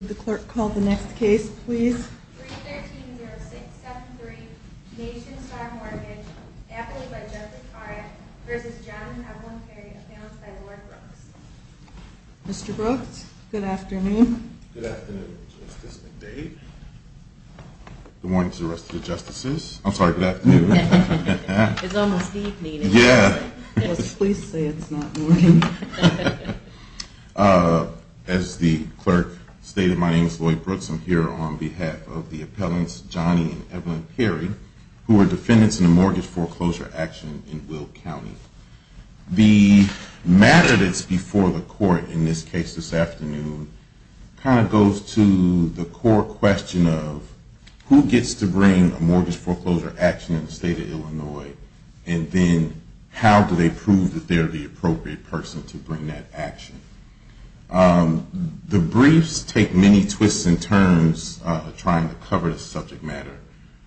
The clerk called the next case, please. Mr. Brooks, good afternoon. Good morning to the rest of the justices. I'm sorry. It's almost evening. Yeah. Please say it's not morning. As the clerk stated, my name is Lloyd Brooks. I'm here on behalf of the appellants, Johnny and Evelyn Perry, who are defendants in a mortgage foreclosure action in Will County. The matter that's before the court in this case this afternoon kind of goes to the core question of who gets to bring a mortgage foreclosure action in the state of Illinois, and then how do they prove that they're the appropriate person to bring that action. The briefs take many twists and turns trying to cover the subject matter,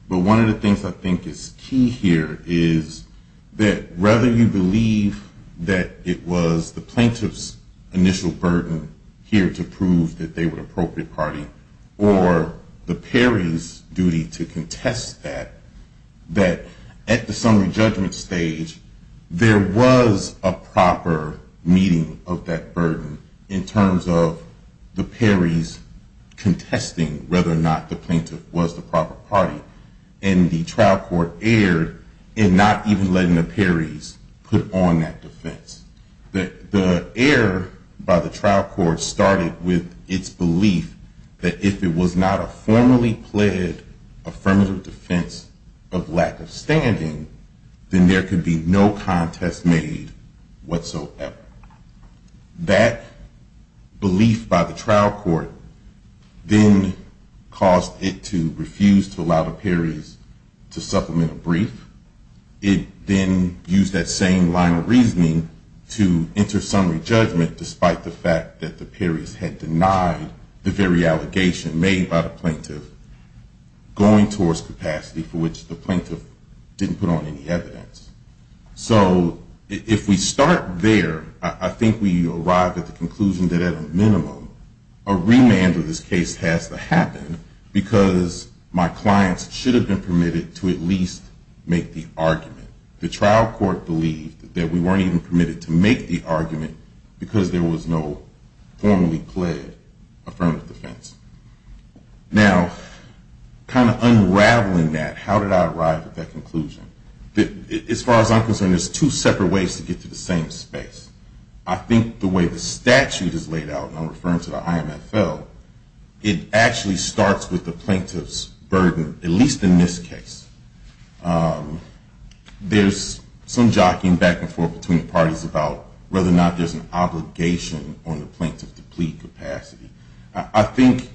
but one of the things I think is key here is that whether you believe that it was the plaintiff's initial burden here to prove that they were the appropriate party, or the Perry's duty to contest that, that at the summary judgment stage, there was a proper meeting of that burden in terms of the Perry's contesting whether or not the plaintiff was the proper party, and the trial court erred in not even letting the Perry's put on that defense. The error by the trial court started with its belief that if it was not a formally pled affirmative defense of lack of standing, then there could be no contest made whatsoever. But that belief by the trial court then caused it to refuse to allow the Perry's to supplement a brief. It then used that same line of reasoning to enter summary judgment despite the fact that the Perry's had denied the very allegation made by the plaintiff going towards capacity for which the plaintiff didn't put on any evidence. So if we start there, I think we arrive at the conclusion that at a minimum, a remand of this case has to happen because my clients should have been permitted to at least make the argument. The trial court believed that we weren't even permitted to make the argument because there was no formally pled affirmative defense. Now, kind of unraveling that, how did I arrive at that conclusion? As far as I'm concerned, there's two separate ways to get to the same space. I think the way the statute is laid out, and I'm referring to the IMFL, it actually starts with the plaintiff's burden, at least in this case. There's some jockeying back and forth between the parties about whether or not there's an obligation on the plaintiff to plead capacity. I think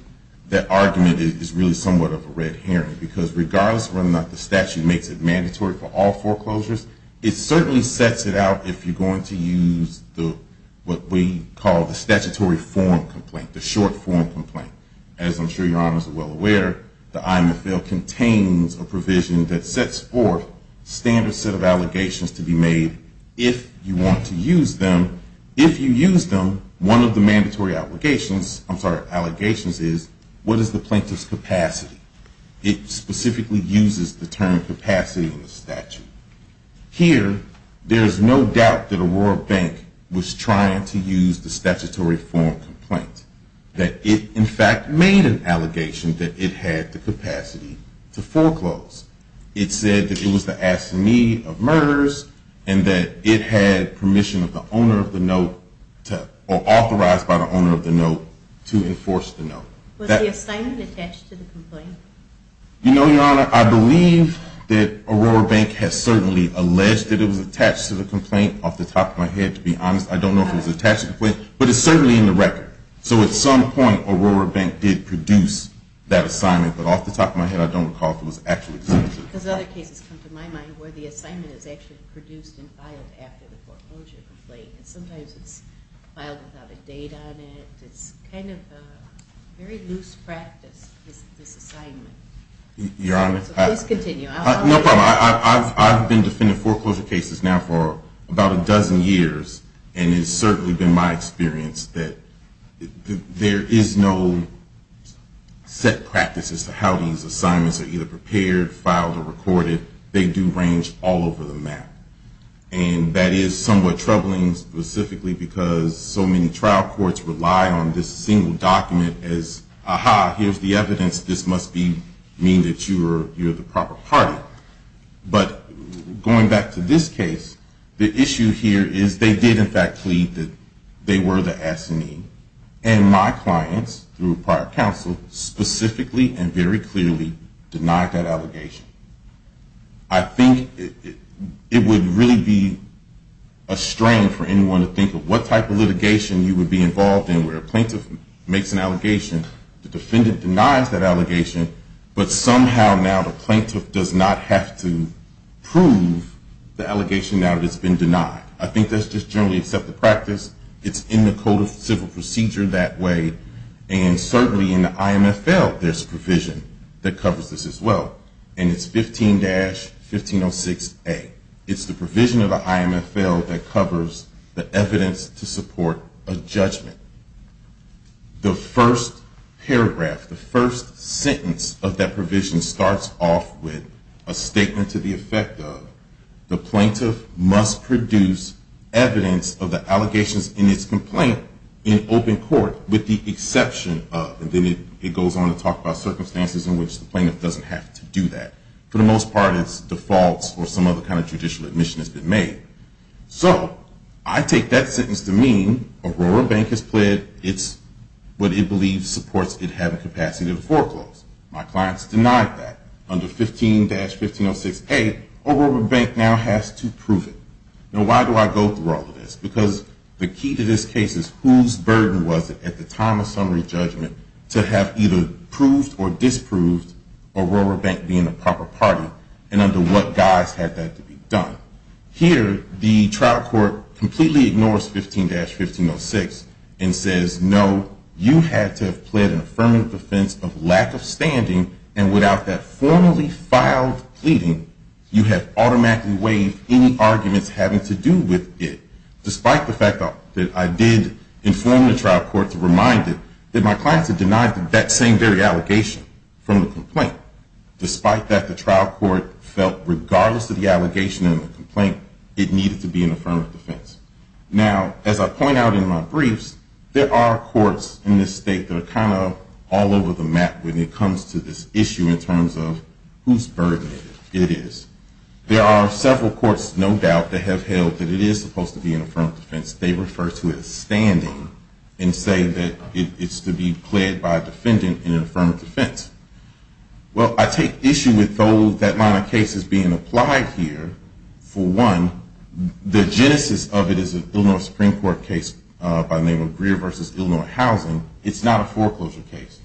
that argument is really somewhat of a red herring because regardless of whether or not the statute makes it mandatory for all foreclosures, it certainly sets it out if you're going to use what we call the statutory form complaint, the short form complaint. As I'm sure your Honors are well aware, the IMFL contains a provision that sets forth standard set of allegations to be made if you want to use them. If you use them, one of the mandatory allegations is what is the plaintiff's capacity? It specifically uses the term capacity in the statute. Here, there's no doubt that Aurora Bank was trying to use the statutory form complaint, that it in fact made an allegation that it had the capacity to foreclose. It said that it was the assignee of murders and that it had permission of the owner of the note, or authorized by the owner of the note, to enforce the note. Was the assignment attached to the complaint? You know, your Honor, I believe that Aurora Bank has certainly alleged that it was attached to the complaint off the top of my head, to be honest. I don't know if it was attached to the complaint, but it's certainly in the record. So at some point, Aurora Bank did produce that assignment, but off the top of my head, I don't recall if it was actually submitted. Because other cases come to my mind where the assignment is actually produced and filed after the foreclosure complaint. And sometimes it's filed without a date on it. It's kind of a very loose practice, this assignment. Your Honor, I've been defending foreclosure cases now for about a dozen years, and it's certainly been my experience that there is no set practice as to how these assignments are either prepared, filed, or recorded. They do range all over the map. And that is somewhat troubling, specifically because so many trial courts rely on this single document as, aha, here's the evidence, this must mean that you're the proper party. But going back to this case, the issue here is they did in fact plead that they were the S&E. And my clients, through prior counsel, specifically and very clearly denied that allegation. I think it would really be a strain for anyone to think of what type of litigation you would be involved in where a plaintiff makes an allegation, the defendant denies that allegation, but somehow now the plaintiff does not have to prove the allegation now that it's been denied. I think that's just generally accepted practice. It's in the Code of Civil Procedure that way. And certainly in the IMFL, there's provision that covers this as well. And it's 15-1506A. It's the provision of the IMFL that covers the evidence to support a judgment. The first paragraph, the first sentence of that provision starts off with a statement to the effect of the plaintiff must produce evidence of the allegations in its complaint in open court with the exception of, and then it goes on to talk about circumstances in which the plaintiff doesn't have to do that. For the most part, it's defaults or some other kind of judicial admission has been made. So I take that sentence to mean Aurora Bank has pled its what it believes supports it having capacity to foreclose. My clients denied that. Under 15-1506A, Aurora Bank now has to prove it. Now why do I go through all of this? Because the key to this case is whose burden was it at the time of summary judgment to have either proved or disproved Aurora Bank being a proper party, and under what guise had that to be done? Here, the trial court completely ignores 15-1506 and says, no, you had to have pled an affirmative defense of lack of standing, and without that formally filed pleading, you have automatically waived any arguments having to do with it, despite the fact that I did inform the trial court to remind it that my clients had denied that same very allegation from the complaint. Despite that, the trial court felt regardless of the allegation and the complaint, it needed to be an affirmative defense. Now, as I point out in my briefs, there are courts in this state that are kind of all over the map when it comes to this issue in terms of whose burden it is. There are several courts, no doubt, that have held that it is supposed to be an affirmative defense. They refer to it as standing and say that it's to be pled by a defendant in an affirmative defense. Well, I take issue with that line of cases being applied here. For one, the genesis of it is an Illinois Supreme Court case by the name of Greer v. Illinois Housing. It's not a foreclosure case.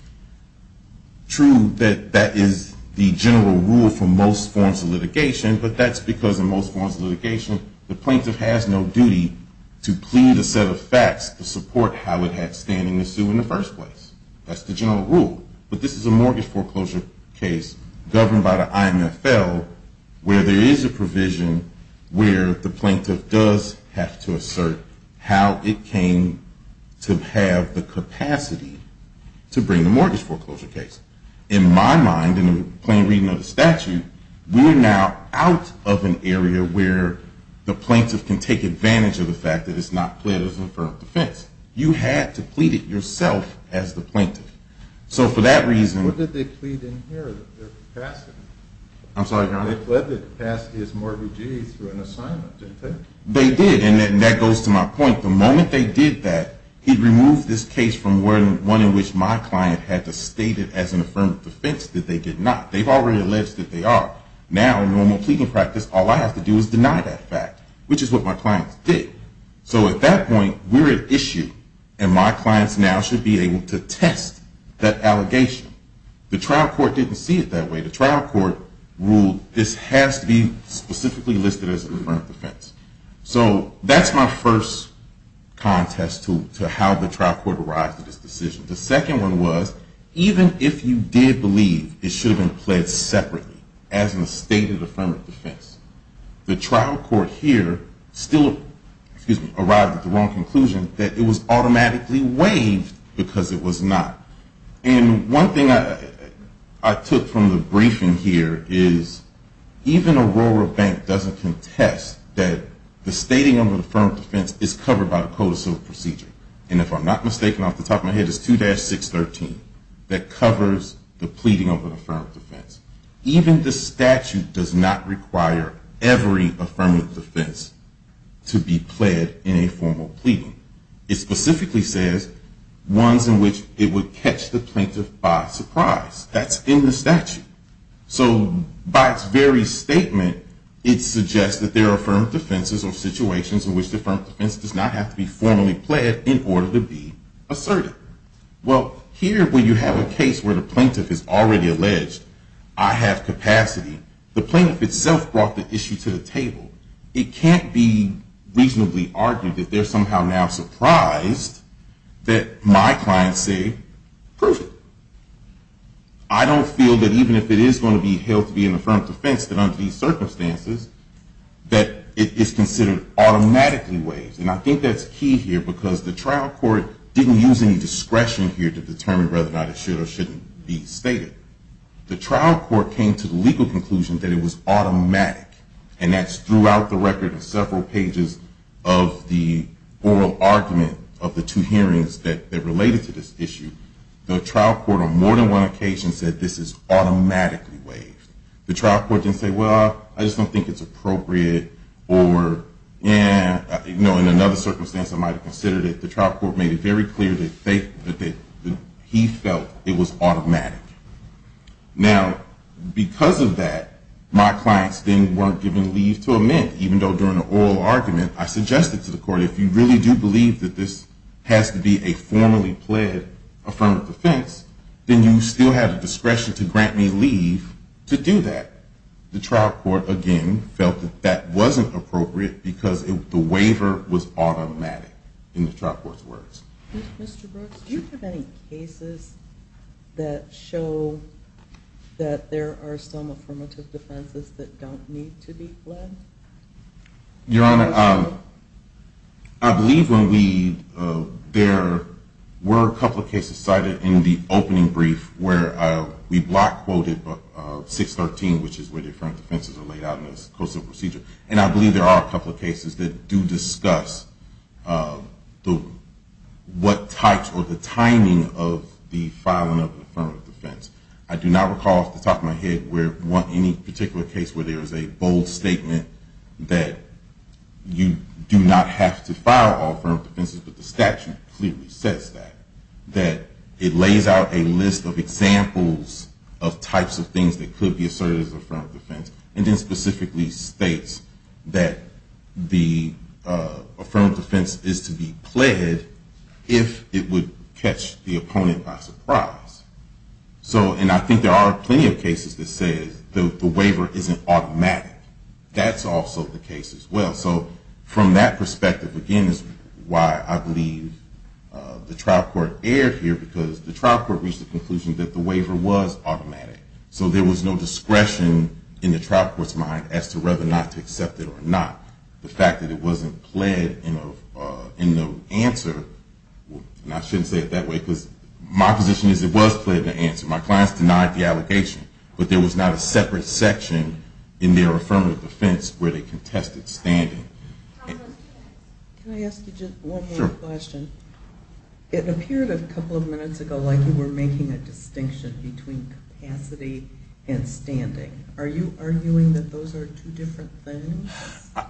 True, that that is the general rule for most forms of litigation, but that's because in most forms of litigation, the plaintiff has no duty to plead a set of facts to support how it had standing the suit in the first place. That's the general rule, but this is a mortgage foreclosure case governed by the IMFL, where there is a provision where the plaintiff does have to assert how it came to have the capacity to bring the mortgage foreclosure case. In my mind, in the plain reading of the statute, we are now out of an area where the plaintiff can take advantage of the fact that it's not pled as an affirmative defense. You had to plead it yourself as the plaintiff. So for that reason… What did they plead in here? I'm sorry, Your Honor? They pleaded to pass his mortgagee through an assignment, didn't they? They did, and that goes to my point. The moment they did that, he removed this case from one in which my client had to state it as an affirmative defense that they did not. They've already alleged that they are. Now, in normal pleading practice, all I have to do is deny that fact, which is what my clients did. So at that point, we're at issue, and my clients now should be able to test that allegation. The trial court didn't see it that way. The trial court ruled this has to be specifically listed as an affirmative defense. So that's my first contest to how the trial court arrived at this decision. The second one was, even if you did believe it should have been pled separately, as in a stated affirmative defense, the trial court here still arrived at the wrong conclusion that it was automatically waived because it was not. And one thing I took from the briefing here is even Aurora Bank doesn't contest that the stating of an affirmative defense is covered by the Code of Civil Procedure. And if I'm not mistaken, off the top of my head, it's 2-613 that covers the pleading of an affirmative defense. Even the statute does not require every affirmative defense to be pled in a formal pleading. It specifically says ones in which it would catch the plaintiff by surprise. That's in the statute. So by its very statement, it suggests that there are affirmative defenses or situations in which the affirmative defense does not have to be formally pled in order to be asserted. Well, here when you have a case where the plaintiff has already alleged, I have capacity, the plaintiff itself brought the issue to the table. It can't be reasonably argued that they're somehow now surprised that my clients say, perfect. I don't feel that even if it is going to be held to be an affirmative defense, that under these circumstances, that it is considered automatically waived. And I think that's key here because the trial court didn't use any discretion here to determine whether or not it should or shouldn't be stated. The trial court came to the legal conclusion that it was automatic. And that's throughout the record of several pages of the oral argument of the two hearings that related to this issue. The trial court on more than one occasion said this is automatically waived. The trial court didn't say, well, I just don't think it's appropriate. Or in another circumstance, I might have considered it. The trial court made it very clear that he felt it was automatic. Now, because of that, my clients then weren't given leave to amend, even though during the oral argument, I suggested to the court, if you really do believe that this has to be a formally pled affirmative defense, then you still have the discretion to grant me leave to do that. The trial court, again, felt that that wasn't appropriate because the waiver was automatic in the trial court's words. Mr. Brooks, do you have any cases that show that there are some affirmative defenses that don't need to be pled? Your Honor, I believe there were a couple of cases cited in the opening brief where we block-quoted 613, which is where the affirmative defenses are laid out in the costal procedure. And I believe there are a couple of cases that do discuss what types or the timing of the filing of an affirmative defense. I do not recall off the top of my head any particular case where there is a bold statement that you do not have to file an affirmative defense but the statute clearly says that. That it lays out a list of examples of types of things that could be asserted as an affirmative defense and then specifically states that the affirmative defense is to be pled if it would catch the opponent by surprise. And I think there are plenty of cases that say the waiver isn't automatic. That's also the case as well. So from that perspective, again, is why I believe the trial court erred here because the trial court reached the conclusion that the waiver was automatic. So there was no discretion in the trial court's mind as to whether or not to accept it or not. The fact that it wasn't pled in the answer, and I shouldn't say it that way, because my position is it was pled in the answer. My clients denied the allegation. But there was not a separate section in their affirmative defense where they contested standing. Can I ask you just one more question? Sure. It appeared a couple of minutes ago like you were making a distinction between capacity and standing. Are you arguing that those are two different things?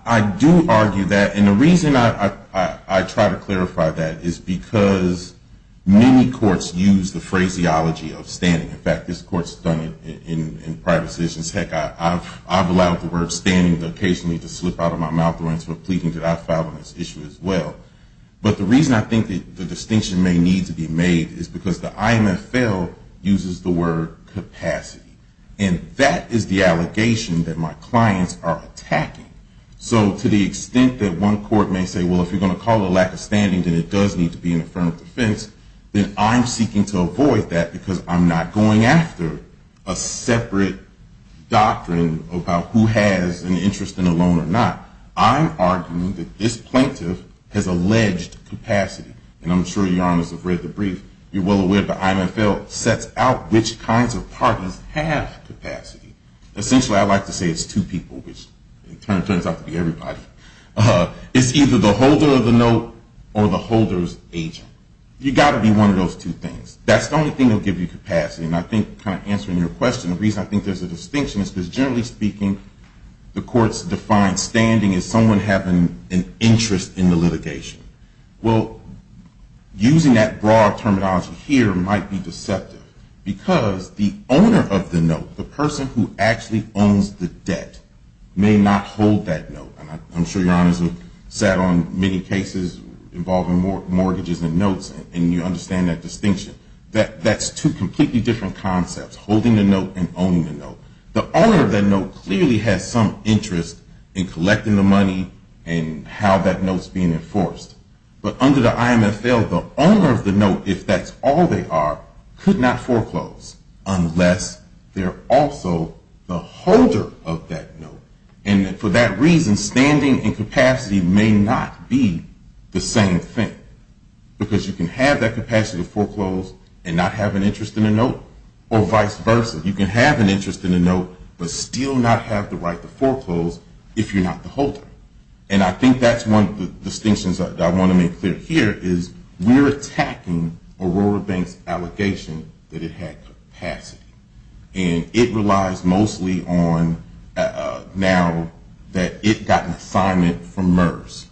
I do argue that. And the reason I try to clarify that is because many courts use the phraseology of standing. In fact, this court's done it in private decisions. Heck, I've allowed the word standing occasionally to slip out of my mouth when it's for pleading to that file on this issue as well. But the reason I think the distinction may need to be made is because the IMFL uses the word capacity. And that is the allegation that my clients are attacking. So to the extent that one court may say, well, if you're going to call it a lack of standing, then it does need to be an affirmative defense, then I'm seeking to avoid that because I'm not going after a separate doctrine about who has an interest in a loan or not. I'm arguing that this plaintiff has alleged capacity. And I'm sure your honors have read the brief. You're well aware the IMFL sets out which kinds of parties have capacity. Essentially, I like to say it's two people, which it turns out to be everybody. It's either the holder of the note or the holder's agent. You've got to be one of those two things. That's the only thing that will give you capacity. And I think kind of answering your question, the reason I think there's a distinction is because generally speaking, the courts define standing as someone having an interest in the litigation. Well, using that broad terminology here might be deceptive because the owner of the note, the person who actually owns the debt, may not hold that note. And I'm sure your honors have sat on many cases involving mortgages and notes, and you understand that distinction. That's two completely different concepts, holding the note and owning the note. The owner of that note clearly has some interest in collecting the money and how that note's being enforced. But under the IMFL, the owner of the note, if that's all they are, could not foreclose unless they're also the holder of that note. And for that reason, standing and capacity may not be the same thing. Because you can have that capacity to foreclose and not have an interest in the note, or vice versa. You can have an interest in the note, but still not have the right to foreclose if you're not the holder. And I think that's one of the distinctions I want to make clear here is we're attacking Aurora Bank's allegation that it had capacity. And it relies mostly on now that it got an assignment from MERS.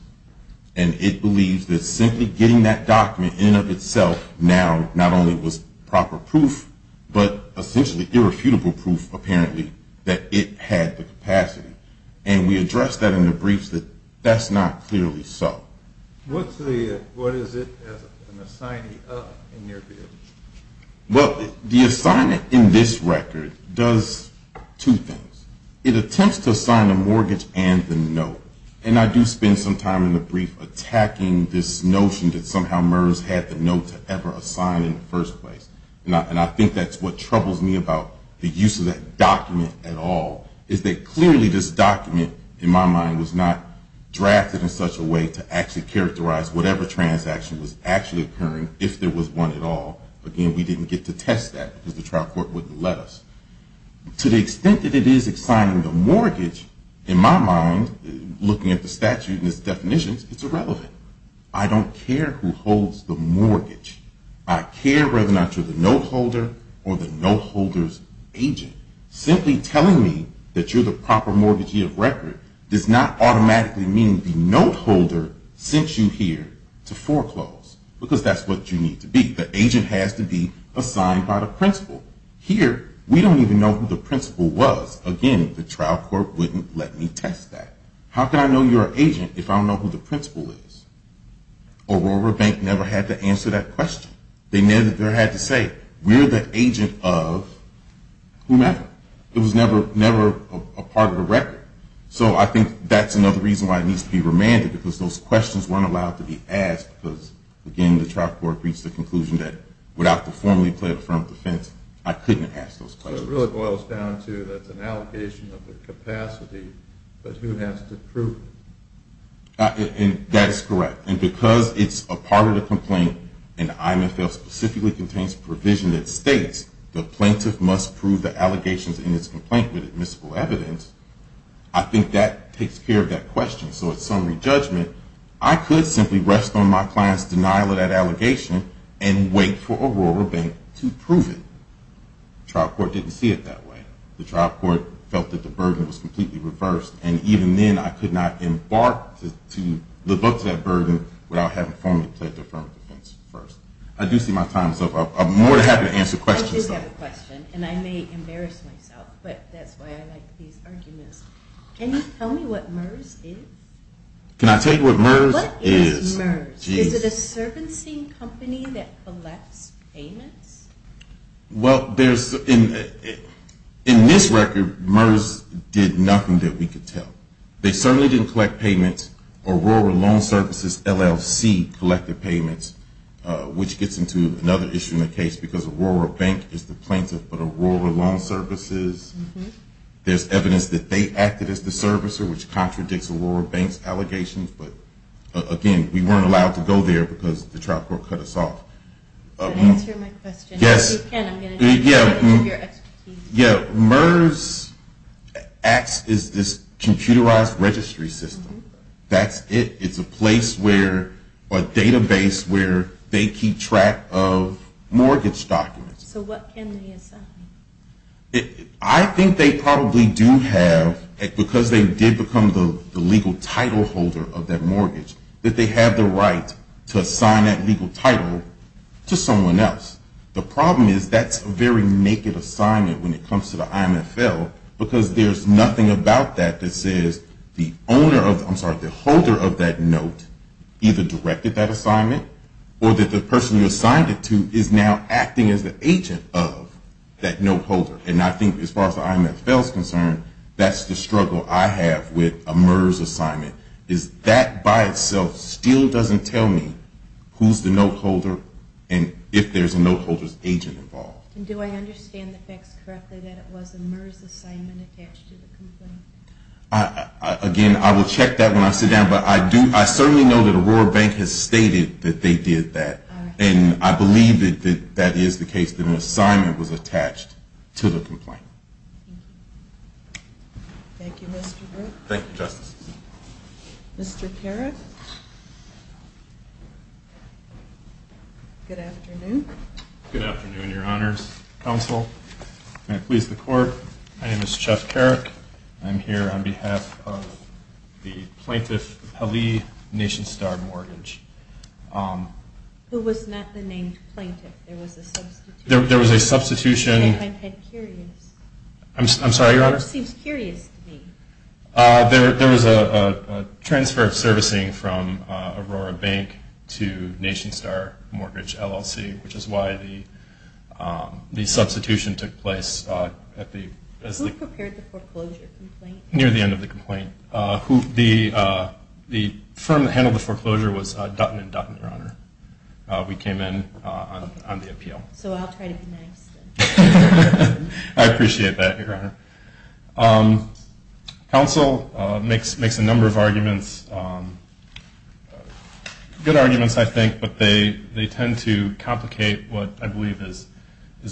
And it believes that simply getting that document in and of itself now not only was proper proof, but essentially irrefutable proof, apparently, that it had the capacity. And we addressed that in the briefs that that's not clearly so. What is it as an assignee in your view? Well, the assignment in this record does two things. It attempts to assign a mortgage and the note. And I do spend some time in the brief attacking this notion that somehow MERS had the note to ever assign in the first place. And I think that's what troubles me about the use of that document at all is that clearly this document, in my mind, was not drafted in such a way to actually characterize whatever transaction was actually occurring, if there was one at all. Again, we didn't get to test that because the trial court wouldn't let us. To the extent that it is assigning the mortgage, in my mind, looking at the statute and its definitions, it's irrelevant. I don't care who holds the mortgage. I care whether or not you're the note holder or the note holder's agent. Simply telling me that you're the proper mortgagee of record does not automatically mean the note holder sent you here to foreclose, because that's what you need to be. The agent has to be assigned by the principal. Here, we don't even know who the principal was. Again, the trial court wouldn't let me test that. How can I know you're an agent if I don't know who the principal is? Aurora Bank never had to answer that question. They never had to say, we're the agent of whomever. It was never a part of the record. So I think that's another reason why it needs to be remanded, because those questions weren't allowed to be asked, because, again, the trial court reached the conclusion that, without the formally pled affirmed defense, I couldn't ask those questions. So it really boils down to that's an allocation of the capacity, but who has to prove it? That is correct. And because it's a part of the complaint, and IMFL specifically contains a provision that states, the plaintiff must prove the allegations in its complaint with admissible evidence, I think that takes care of that question. So in summary judgment, I could simply rest on my client's denial of that allegation and wait for Aurora Bank to prove it. The trial court didn't see it that way. The trial court felt that the burden was completely reversed, and even then I could not embark to live up to that burden without having formally pled affirmed defense first. I do see my time is up. I'm more than happy to answer questions. I do have a question, and I may embarrass myself, but that's why I like these arguments. Can you tell me what MERS is? Can I tell you what MERS is? What is MERS? Is it a servicing company that collects payments? Well, in this record, MERS did nothing that we could tell. They certainly didn't collect payments. Aurora Loan Services LLC collected payments, which gets into another issue in the case, because Aurora Bank is the plaintiff, but Aurora Loan Services, there's evidence that they acted as the servicer, which contradicts Aurora Bank's allegations, but again, we weren't allowed to go there because the trial court cut us off. Can I answer my question? Yes. MERS acts as this computerized registry system. That's it. It's a database where they keep track of mortgage documents. So what can they assign? I think they probably do have, because they did become the legal title holder of that mortgage, that they have the right to assign that legal title to someone else. The problem is that's a very naked assignment when it comes to the IMFL, because there's nothing about that that says the owner of, I'm sorry, the holder of that note either directed that assignment or that the person you assigned it to is now acting as the agent of that note holder. And I think as far as the IMFL is concerned, that's the struggle I have with a MERS assignment, is that by itself still doesn't tell me who's the note holder and if there's a note holder's agent involved. Do I understand the facts correctly that it was a MERS assignment attached to the complaint? Again, I will check that when I sit down, but I certainly know that Aurora Bank has stated that they did that, and I believe that that is the case, that an assignment was attached to the complaint. Thank you. Thank you, Mr. Brook. Thank you, Justice. Mr. Carrick? Good afternoon. Good afternoon, Your Honors. Counsel, may I please the Court? My name is Jeff Carrick. I'm here on behalf of the Plaintiff Pelley Nation Star Mortgage. Who was not the named plaintiff. There was a substitution. There was a substitution. I'm sorry, Your Honor? It just seems curious to me. There was a transfer of servicing from Aurora Bank to Nation Star Mortgage, LLC, which is why the substitution took place at the... Who prepared the foreclosure complaint? Near the end of the complaint. The firm that handled the foreclosure was Dutton & Dutton, Your Honor. We came in on the appeal. So I'll try to be nice then. I appreciate that, Your Honor. Counsel makes a number of arguments. Good arguments, I think. But they tend to complicate what I believe is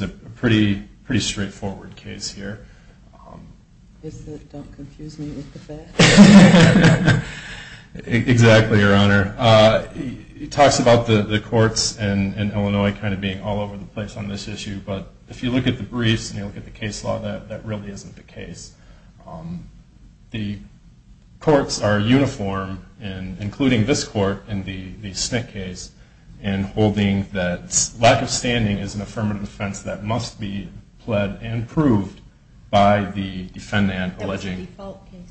a pretty straightforward case here. Is that, don't confuse me with the facts? Exactly, Your Honor. He talks about the courts in Illinois kind of being all over the place on this issue. But if you look at the briefs and you look at the case law, that really isn't the case. The courts are uniform, including this court in the Schnick case, in holding that lack of standing is an affirmative defense that must be pled and proved by the defendant alleging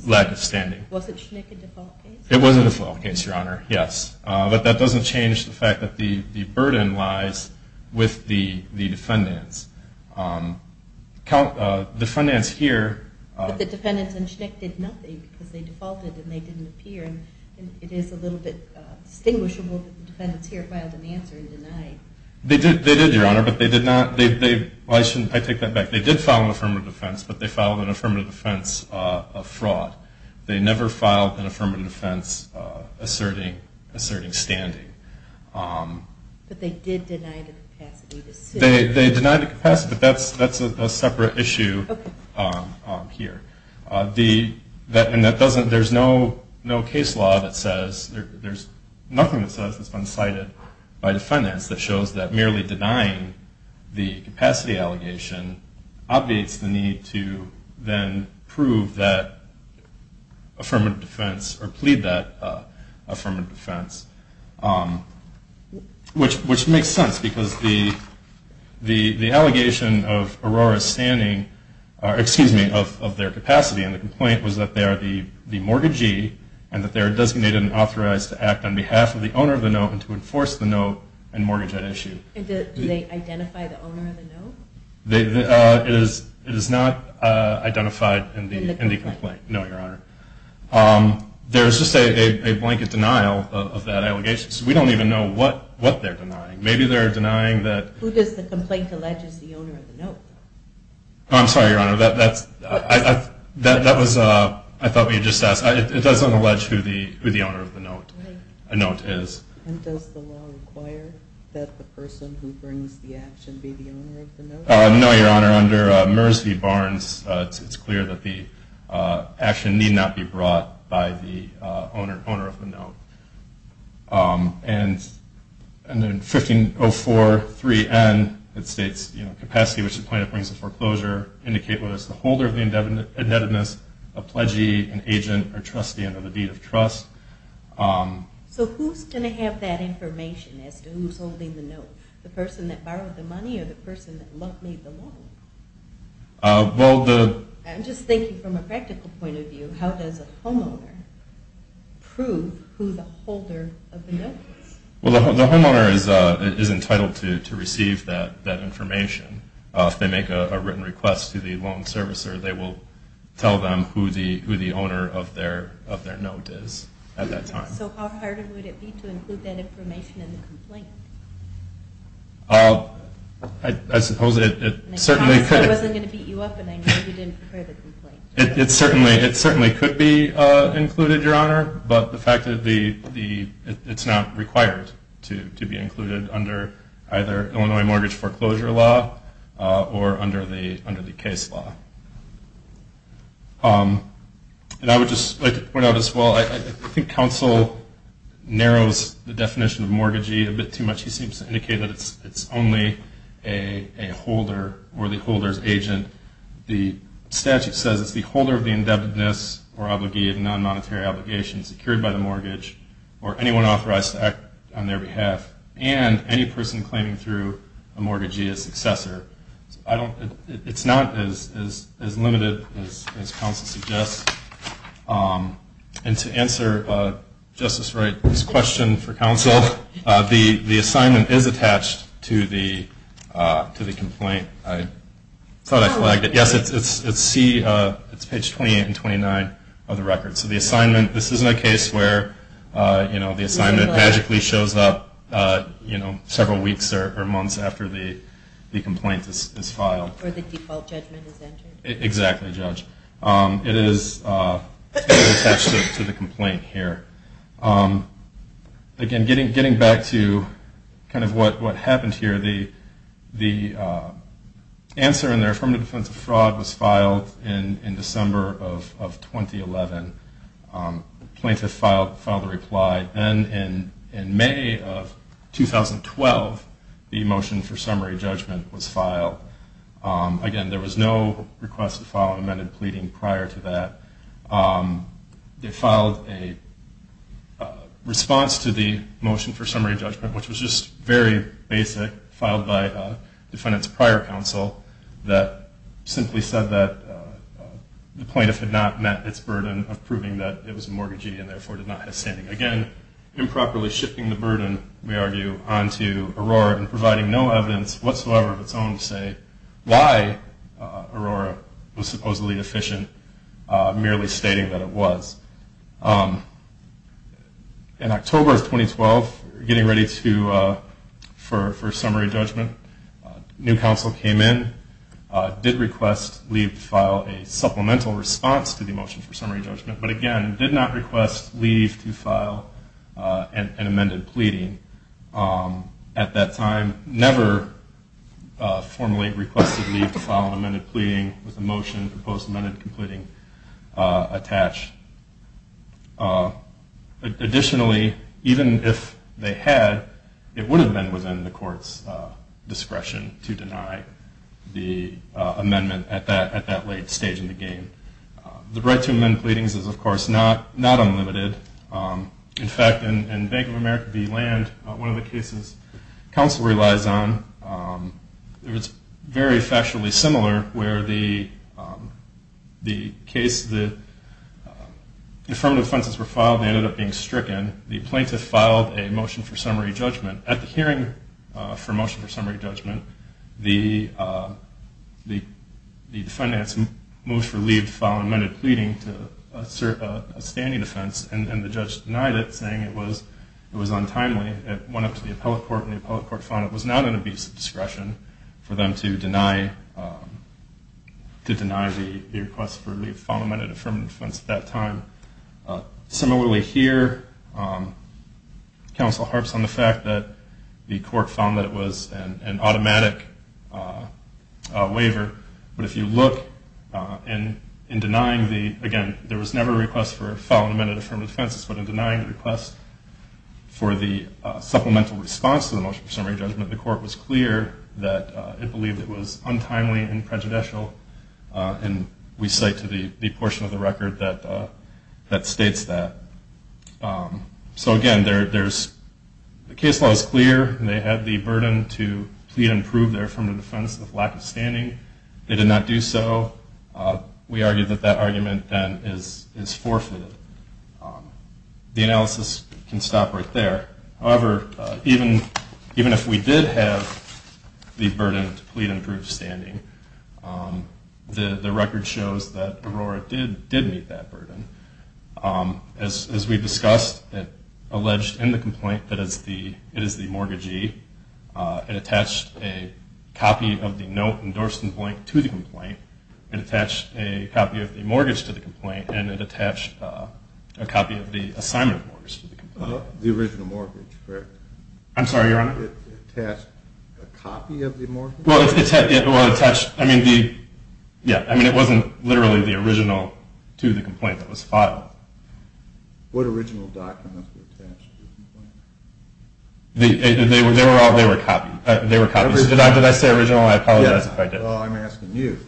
lack of standing. Was it Schnick a default case? It was a default case, Your Honor, yes. But that doesn't change the fact that the burden lies with the defendants. But the defendants in Schnick did nothing because they defaulted and they didn't appear. It is a little bit distinguishable that the defendants here filed an answer and denied. They did, Your Honor, but they did not. I take that back. They did file an affirmative defense, but they filed an affirmative defense of fraud. They never filed an affirmative defense asserting standing. But they did deny the capacity to sit. They denied the capacity, but that's a separate issue here. And that doesn't, there's no case law that says, there's nothing that says it's been cited by the defendants that shows that merely denying the capacity allegation obviates the need to then prove that affirmative defense or plead that affirmative defense, which makes sense because the allegation of Aurora's standing, excuse me, of their capacity in the complaint, was that they are the mortgagee and that they are designated and authorized to act on behalf of the owner of the note and to enforce the note and mortgage at issue. Do they identify the owner of the note? It is not identified in the complaint. In the complaint? No, Your Honor. There's just a blanket denial of that allegation. So we don't even know what they're denying. Maybe they're denying that... Who does the complaint allege is the owner of the note? I'm sorry, Your Honor. That was, I thought we had just asked. It doesn't allege who the owner of the note is. And does the law require that the person who brings the action be the owner of the note? No, Your Honor. Under Murs v. Barnes, it's clear that the action need not be brought by the owner of the note. And then 15043N, it states, you know, capacity which the plaintiff brings to foreclosure indicate whether it's the holder of the indebtedness, a pledgee, an agent, or trustee under the deed of trust. So who's going to have that information as to who's holding the note? The person that borrowed the money or the person that made the loan? Well, the... I'm just thinking from a practical point of view. How does a homeowner prove who the holder of the note is? Well, the homeowner is entitled to receive that information. If they make a written request to the loan servicer, they will tell them who the owner of their note is. So how hard would it be to include that information in the complaint? I suppose it certainly could... I promised I wasn't going to beat you up and I know you didn't prepare the complaint. It certainly could be included, Your Honor, but the fact that it's not required to be included under either Illinois mortgage foreclosure law or under the case law. And I would just like to point out as well, I think counsel narrows the definition of mortgagee a bit too much. He seems to indicate that it's only a holder or the holder's agent. The statute says it's the holder of the indebtedness or obligee of non-monetary obligations secured by the mortgage or anyone authorized to act on their behalf and any person claiming through a mortgagee as successor. It's not as limited as counsel suggests. And to answer Justice Wright's question for counsel, the assignment is attached to the complaint. I thought I flagged it. Yes, it's page 28 and 29 of the record. So the assignment, this isn't a case where the assignment magically shows up several weeks or months after the complaint is filed. Or the default judgment is entered. Exactly, Judge. It is attached to the complaint here. Again, getting back to kind of what happened here, the answer in the affirmative defense of fraud was filed in December of 2011. The plaintiff filed the reply. Then in May of 2012, the motion for summary judgment was filed. Again, there was no request to file an amended pleading prior to that. They filed a response to the motion for summary judgment, which was just very basic, filed by defendant's prior counsel that simply said that the plaintiff had not met its burden of proving that it was a mortgagee and therefore did not have standing. Again, improperly shifting the burden, we argue, onto Aurora and providing no evidence whatsoever of its own to say why Aurora was supposedly deficient merely stating that it was. In October of 2012, getting ready for summary judgment, new counsel came in, did request leave to file a supplemental response to the motion for summary judgment, but again, did not request leave to file an amended pleading. At that time, never formally requested leave to file an amended pleading with a motion for post-amended completing attached. Additionally, even if they had, it would have been within the court's discretion to deny the amendment at that late stage in the game. The right to amend pleadings is, of course, not unlimited. In fact, in Bank of America v. Land, one of the cases counsel relies on, it's very factually similar where the case, the affirmative offenses were filed and they ended up being stricken. The plaintiff filed a motion for summary judgment. At the hearing for motion for summary judgment, the defendant moved for leave to file an amended pleading to assert a standing offense and the judge denied it at the hearing. It was untimely. It went up to the appellate court and the appellate court found it was not an abuse of discretion for them to deny the request for leave to file an amended affirmative defense at that time. Similarly here, counsel harps on the fact that the court found that it was an automatic waiver, but if you look in denying the, again, there was never a request for a file an amended affirmative defense, but in denying the request for the supplemental response to the motion for summary judgment, the court was clear that it believed it was untimely and prejudicial and we cite to the portion of the record that states that. So again, the case law is clear and they had the burden to plead and prove their affirmative defense with lack of standing. They did not do so. We argue that that argument then is forfeited. The analysis can stop right there. However, even if we did have the burden to plead and prove standing, the record shows that Aurora did meet that burden. As we discussed, it alleged in the complaint that it is the mortgagee. It attached a copy of the note endorsed in blank to the complaint. It attached a copy of the mortgage to the complaint and it attached a copy of the assignment mortgage to the complaint. The original mortgage, correct? I'm sorry, Your Honor? It attached a copy of the mortgage? Well, it attached, I mean, it wasn't literally the original to the complaint that was filed. What original document was attached to the complaint? They were all, they were copies. Did I say original? I apologize if I did. Well, I'm asking you.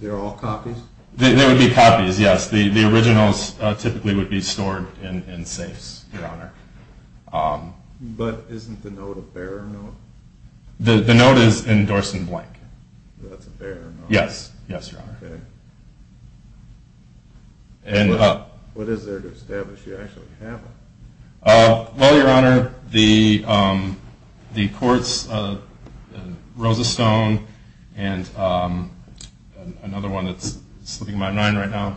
They were all copies? They would be copies, yes. The originals typically would be stored in safes, Your Honor. But isn't the note a bearer note? The note is endorsed in blank. That's a bearer note? Yes, yes, Your Honor. Okay. What is there to establish? You actually have it. Well, Your Honor, the courts, Rosa Stone, and another one that's slipping my mind right now,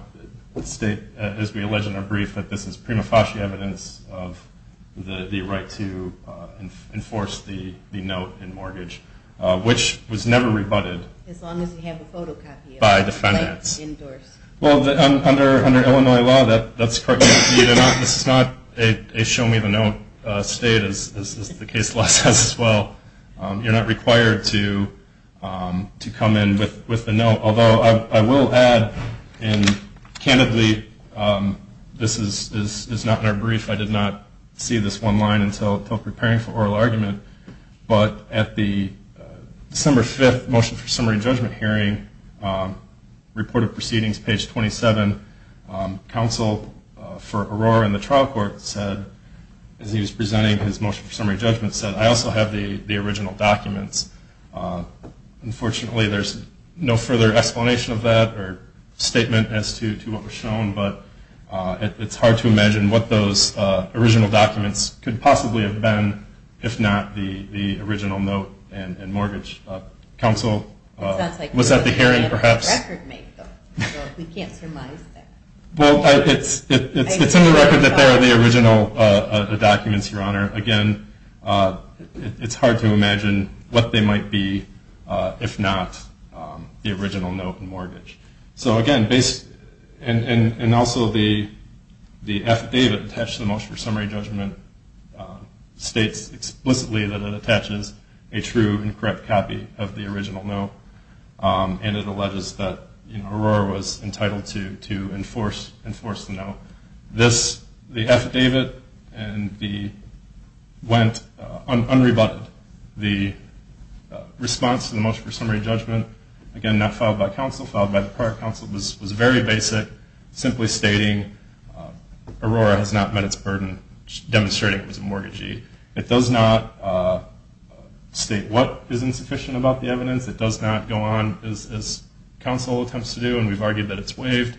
state, as we allege in our brief, that this is prima facie evidence of the right to enforce the note in mortgage, which was never rebutted by defendants. As long as you have a photocopy of it. Well, under Illinois law, that's correct. This is not a show-me-the-note state, as the case law says as well. You're not required to come in with the note, although I will add and candidly this is not in our brief. I did not see this one line until preparing for oral argument, but at the December 5th motion for summary judgment hearing report of proceedings, page 27, counsel for Aurora and the trial court said, as he was presenting his motion for summary judgment, said, I also have the original documents. Unfortunately, there's no further explanation of that or statement as to what was shown, but it's hard to imagine what those original documents could possibly have been if not the original note and mortgage. Counsel, was that the hearing perhaps? We can't surmise that. Well, it's in the record that they're the original documents, Your Honor. Again, it's hard to imagine what they might be if not the original note and mortgage. So again, and also the affidavit attached to the motion for summary judgment states explicitly that it attaches a true and correct copy of the original note and it alleges that Aurora was entitled to enforce the note. The affidavit went unrebutted. The response to the motion for summary judgment, again, not filed by counsel, filed by the prior counsel, was very basic, simply stating Aurora has not met its burden, demonstrating it was a mortgagee. It does not state what is insufficient about the evidence. It does not go on as counsel attempts to do, and we've argued that it's waived.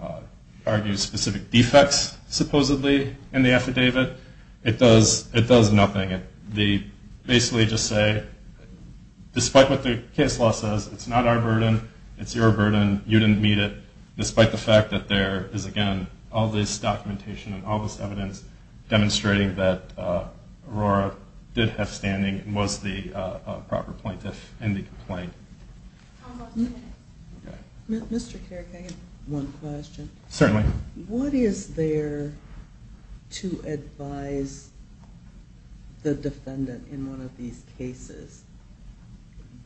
It argues specific defects supposedly in the affidavit. It does nothing. They basically just say despite what the case law says, it's not our burden, it's your burden, you didn't meet it, despite the fact that there is, again, all this documentation and all this evidence demonstrating that Aurora did have standing and was the proper plaintiff in the complaint. Mr. Kerrigan, one question. Certainly. What is there to advise the defendant in one of these cases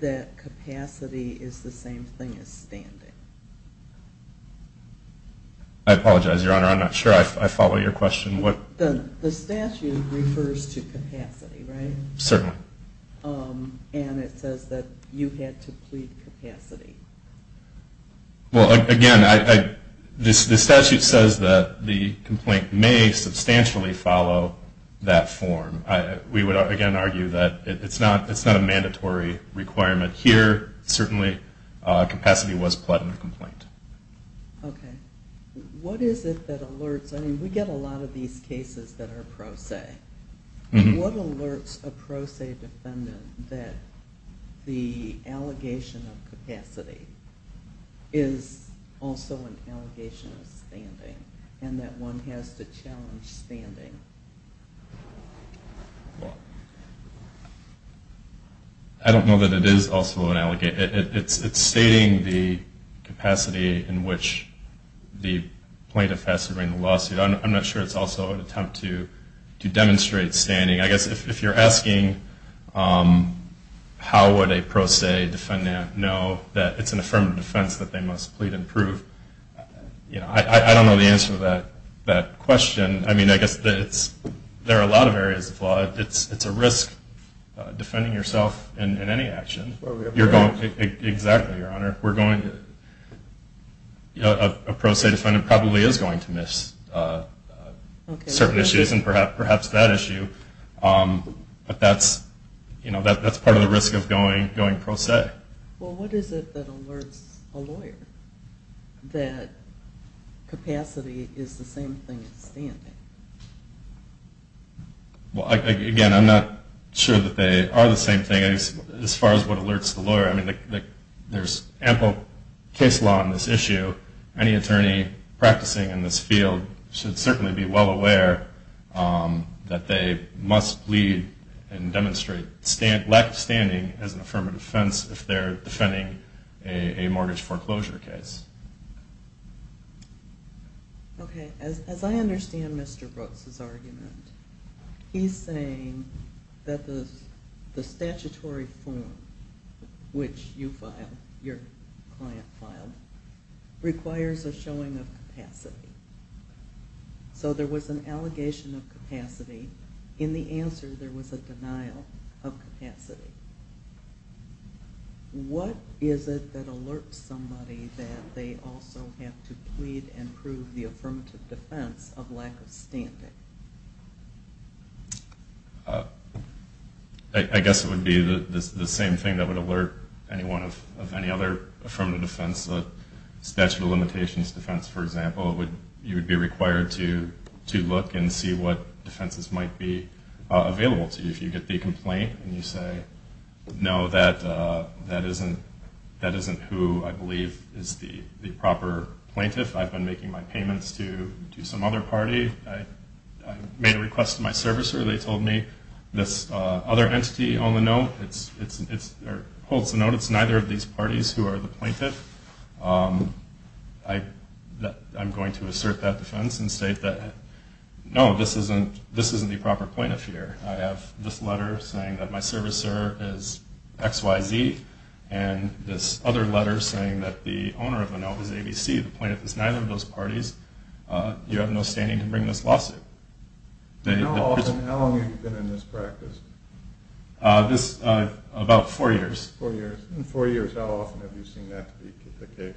that capacity is the same thing as standing? I apologize, Your Honor. I'm not sure I follow your question. The statute refers to capacity, right? Certainly. And it says that you had to plead capacity. Well, again, the statute says that the complaint may substantially follow that form. We would, again, argue that it's not a mandatory requirement here. Certainly, capacity was pled in the complaint. What is it that alerts I mean, we get a lot of these cases that are pro se. What alerts a pro se defendant that the capacity is also an allegation of standing and that one has to challenge standing? I don't know that it is also an allegation. It's stating the capacity in which the plaintiff has to bring the lawsuit. I'm not sure it's also an attempt to demonstrate standing. I guess if you're asking how would a pro se defendant know that it's an affirmative defense that they must plead and prove, I don't know the answer to that question. I guess there are a lot of areas of law. It's a risk defending yourself in any action. Exactly, Your Honor. A pro se defendant probably is going to miss certain issues and perhaps that issue. But that's part of the risk of going pro se. Well, what is it that alerts a lawyer that capacity is the same thing as standing? Again, I'm not sure that they are the same thing as far as what alerts the lawyer. There's ample case law on this issue. Any attorney practicing in this field should certainly be well aware that they must plead and demonstrate lack of standing as an affirmative defense if they're defending a mortgage foreclosure case. Okay. As I understand Mr. Brooks' argument, he's saying that the statutory form which you filed, your client filed, requires a showing of capacity. So there was an allegation of capacity. In the answer there was a denial of capacity. What is it that alerts somebody that they also have to plead and prove the affirmative defense of lack of standing? I guess it would be the same thing that would alert anyone of any other affirmative defense. Statutory limitations defense, for example, you would be required to look and see what defenses might be available to you. If you get the complaint and you say no, that isn't who I believe is the proper plaintiff. I've been making my payments to some other party. I made a request to my servicer. They told me this other entity on the note holds the note. It's neither of these parties who are the plaintiff. I'm going to assert that defense and state that no, this isn't the proper plaintiff here. I have this letter saying that my servicer is XYZ and this other letter saying that the owner of the note is ABC. The plaintiff is neither of those parties. You have no standing to bring this lawsuit. How long have you been in this practice? About four years. In four years, how often have you seen that be the case?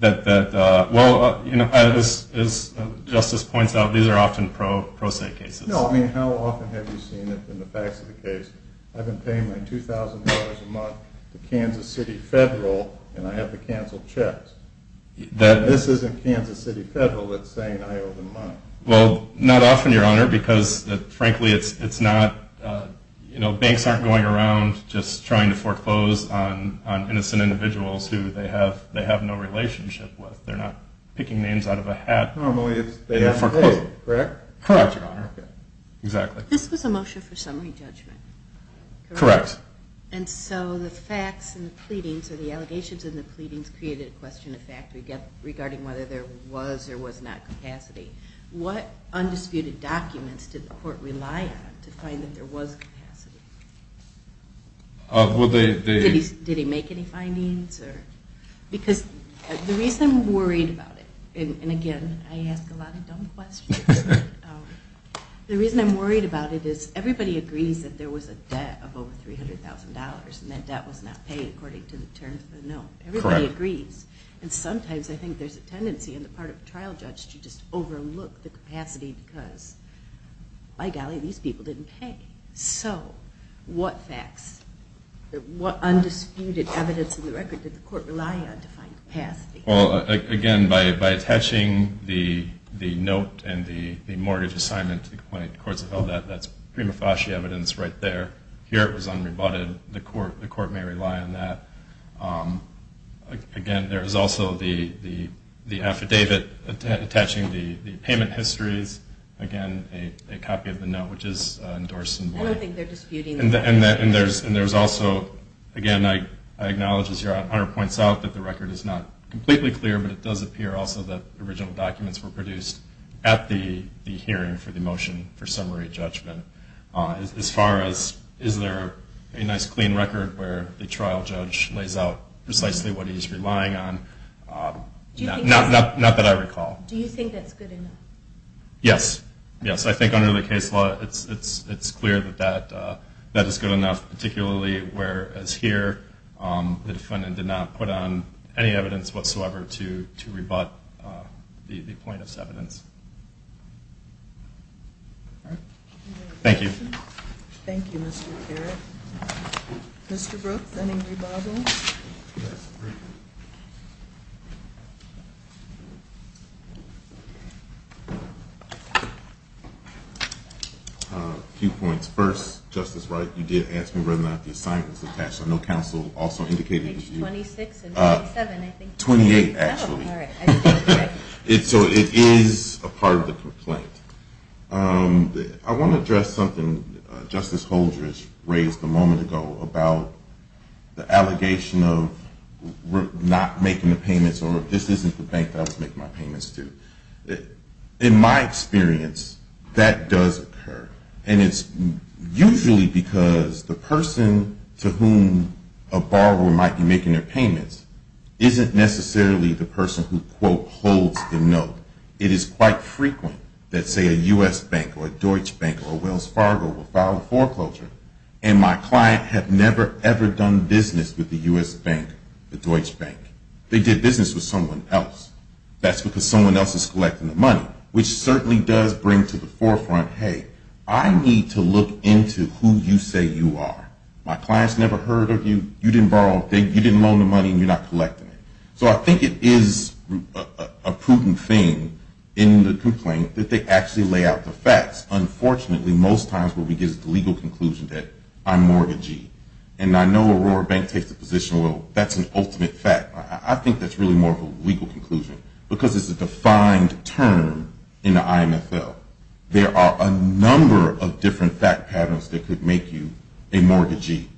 Well, as Justice points out, these are often pro se cases. No, I mean how often have you seen it in the facts of the case? I've been paying my $2,000 a month to Kansas City Federal and I have to cancel checks. This isn't Kansas City Federal that's saying I owe them money. Not often, Your Honor, because frankly it's not banks aren't going around just trying to foreclose on innocent individuals who they have no relationship with. They're not picking names out of a hat. Normally they have to pay, correct? Correct, Your Honor. Exactly. This was a motion for summary judgment, correct? Correct. And so the facts and the pleadings, or the allegations and the pleadings created a question of fact regarding whether there was or was not capacity. What undisputed documents did the court rely on to find that there was capacity? Well, they Did he make any findings? Because the reason I'm worried about it, and again I ask a lot of dumb questions, the reason I'm worried about it is everybody agrees that there was a debt of over $300,000 and that debt was not paid according to the terms of the note. Everybody agrees. And sometimes I think there's a tendency on the part of a trial judge to just overlook the capacity because by golly, these people didn't pay. So, what facts? What undisputed evidence of the record did the court rely on to find capacity? Well, again by attaching the note and the mortgage assignment to the complaint, of course that's prima facie evidence right there. Here it was unrebutted. The court may rely on that. Again, there is also the affidavit attaching the payment histories. Again, a copy of the note, which is endorsed. I don't think they're disputing that. And there's also, again I acknowledge as your honor points out that the record is not completely clear, but it does appear also that original documents were produced at the hearing for the motion for summary judgment. As far as is there a nice clean record where the trial judge lays out precisely what he's relying on? Not that I recall. Do you think that's good enough? Yes. Yes. I think under the case law it's clear that that is good enough. Particularly where as here the defendant did not put on any evidence whatsoever to rebut the plaintiff's evidence. Thank you. Thank you. Mr. Brooks, any rebuttals? A few points. First, Justice Wright, you did ask me whether or not the assignment was attached. I know counsel also indicated. Page 26 and 27. 28 actually. So it is a part of the complaint. I want to address something Justice Holdridge raised a moment ago about the allegation of not making the payments or this isn't the bank that I would make my payments to. In my experience, that does occur. And it's usually because the person to whom a borrower might be making their payments isn't necessarily the person who, quote, holds the note. It is quite frequent that say a U.S. bank or a Deutsche Bank or Wells Fargo will file a foreclosure and my client have never ever done business with the U.S. bank or Deutsche Bank. They did business with someone else. That's because someone else is collecting the money which certainly does bring to the forefront hey, I need to look into who you say you are. My client's never heard of you. You didn't borrow, you didn't loan the money, and you're not collecting it. So I think it is a prudent thing in the complaint that they actually lay out the facts. Unfortunately most times what we get is the legal conclusion that I'm mortgagee. And I know Aurora Bank takes the position, well that's an ultimate fact. I think that's really more of a legal conclusion because it's a defined term in the IMFL. There are a number of different fact patterns that could make you a mortgagee.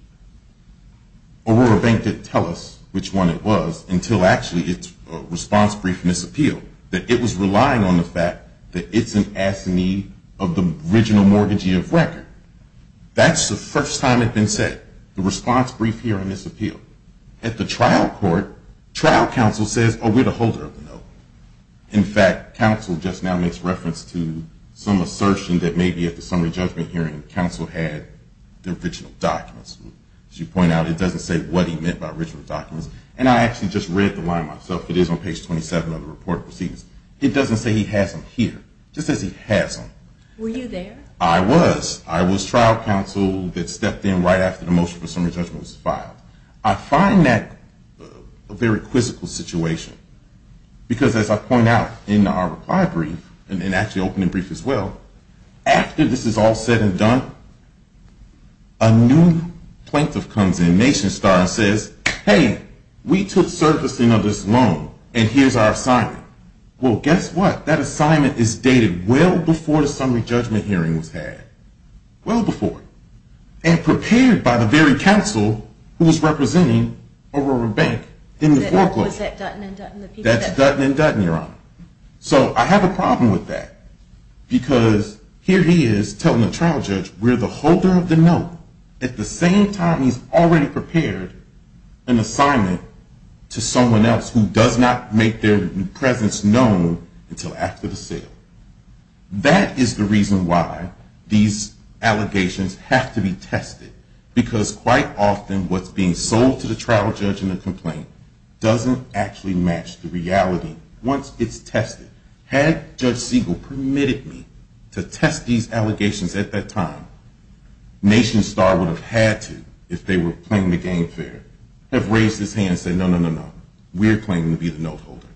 Aurora Bank didn't tell us which one it was until actually its response brief misappealed. It was relying on the fact that it's an assignee of the original mortgagee of record. That's the first time it's been said. The response brief here misappealed. At the trial court, trial counsel says, oh we're the holder of the note. In fact, counsel just now makes reference to some assertion that maybe at the summary judgment hearing counsel had the original documents. As you point out, it doesn't say what he meant by original documents. And I actually just read the line myself. It is on page 27 of the report of proceedings. It doesn't say he has them here. It just says he has them. Were you there? I was. I was trial counsel that stepped in right after the motion for summary judgment was filed. I find that a very quizzical situation because as I point out in our reply brief and actually opening brief as well, after this is all said and done, a new plaintiff comes in, Nation Star, and says, hey, we took servicing of this loan and here's our assignment. Well, guess what? That assignment is dated well before the summary judgment hearing was had. Well before. And prepared by the very counsel who was representing Aurora Bank in the foreclosure. That was at Dutton and Dutton. That's Dutton and Dutton, Your Honor. So I have a problem with that because here he is telling the trial judge, we're the holder of the note at the same time he's already prepared an assignment to someone else who does not make their presence known until after the sale. That is the reason why these allegations have to be tested because quite often what's being sold to the trial judge in the complaint doesn't actually match the reality once it's tested. Had Judge Siegel permitted me to test these allegations at that time, Nation Star would have had to if they were playing the game fair, have raised his hand and said, no, no, no, no. We're claiming to be the note holder.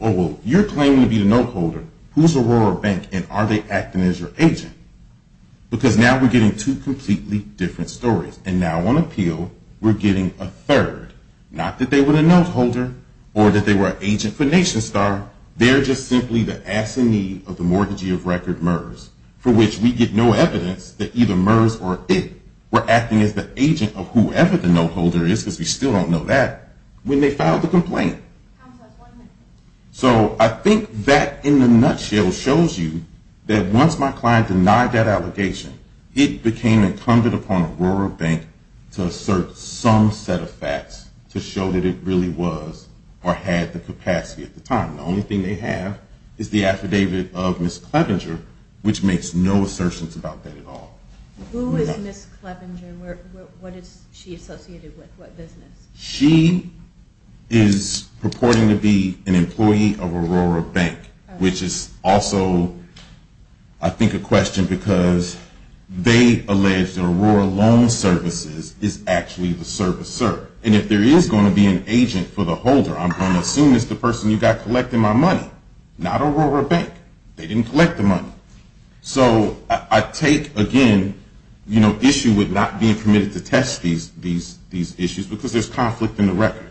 Oh, well, you're claiming to be the note holder. Who's Aurora Bank and are they acting as your agent? Because now we're getting two completely different stories. And now on appeal, we're getting a third. Not that they were the note holder or that they were an agent for Nation Star. They're just simply the assinee of the mortgagee of record, Merz, for which we get no evidence that either Merz or it were acting as the agent of whoever the note holder is because we still don't know that when they filed the complaint. So I think that in a nutshell shows you that once my client denied that allegation, it became incumbent upon Aurora Bank to assert some set of facts to show that it really was or had the capacity at the time. The only thing they have is the affidavit of Ms. Clevenger, which makes no assertions about that at all. Who is Ms. Clevenger? What is she associated with? What business? She is purporting to be an employee of Aurora Bank, which is also I think a question because they allege that Aurora Loan Services is actually the servicer. And if there is going to be an agent for the holder, I'm going to assume it's the person who got collected my money. Not Aurora Bank. They didn't collect the money. So I take, again, issue with not being permitted to test these issues because there's conflict in the record.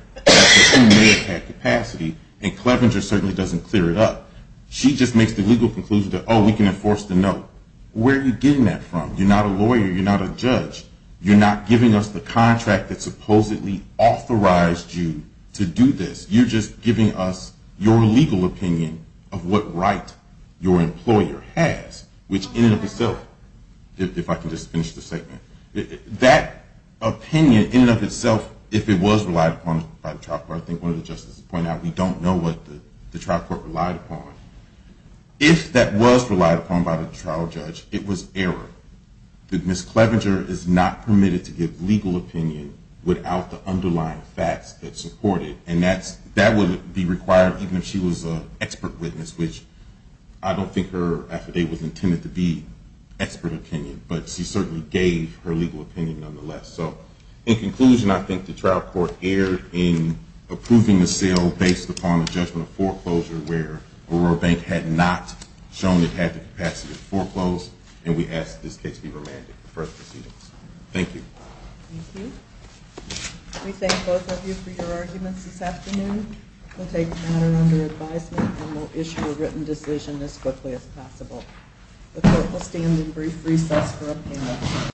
Who may have had capacity and Clevenger certainly doesn't clear it up. She just makes the legal conclusion that oh, we can enforce the note. Where are you getting that from? You're not a lawyer. You're not a judge. You're not giving us the contract that supposedly authorized you to do this. You're just giving us your legal opinion of what right your employer has, which in and of itself, if I can just finish the statement, that opinion in and of itself, if it was relied upon by the trial judge, I don't know what the trial court relied upon. If that was relied upon by the trial judge, it was error. Ms. Clevenger is not permitted to give legal opinion without the underlying facts that support it. And that would be required even if she was an expert witness, which I don't think her affidavit was intended to be expert opinion, but she certainly gave her legal opinion nonetheless. In conclusion, I think the trial court erred in approving the sale based upon a judgment of foreclosure where Aurora Bank had not shown it had the capacity to foreclose and we ask that this case be remanded for further proceedings. Thank you. Thank you. We thank both of you for your arguments this afternoon. We'll take the matter under advisement and we'll issue a written decision as quickly as possible. The court will stand in brief recess for a panel.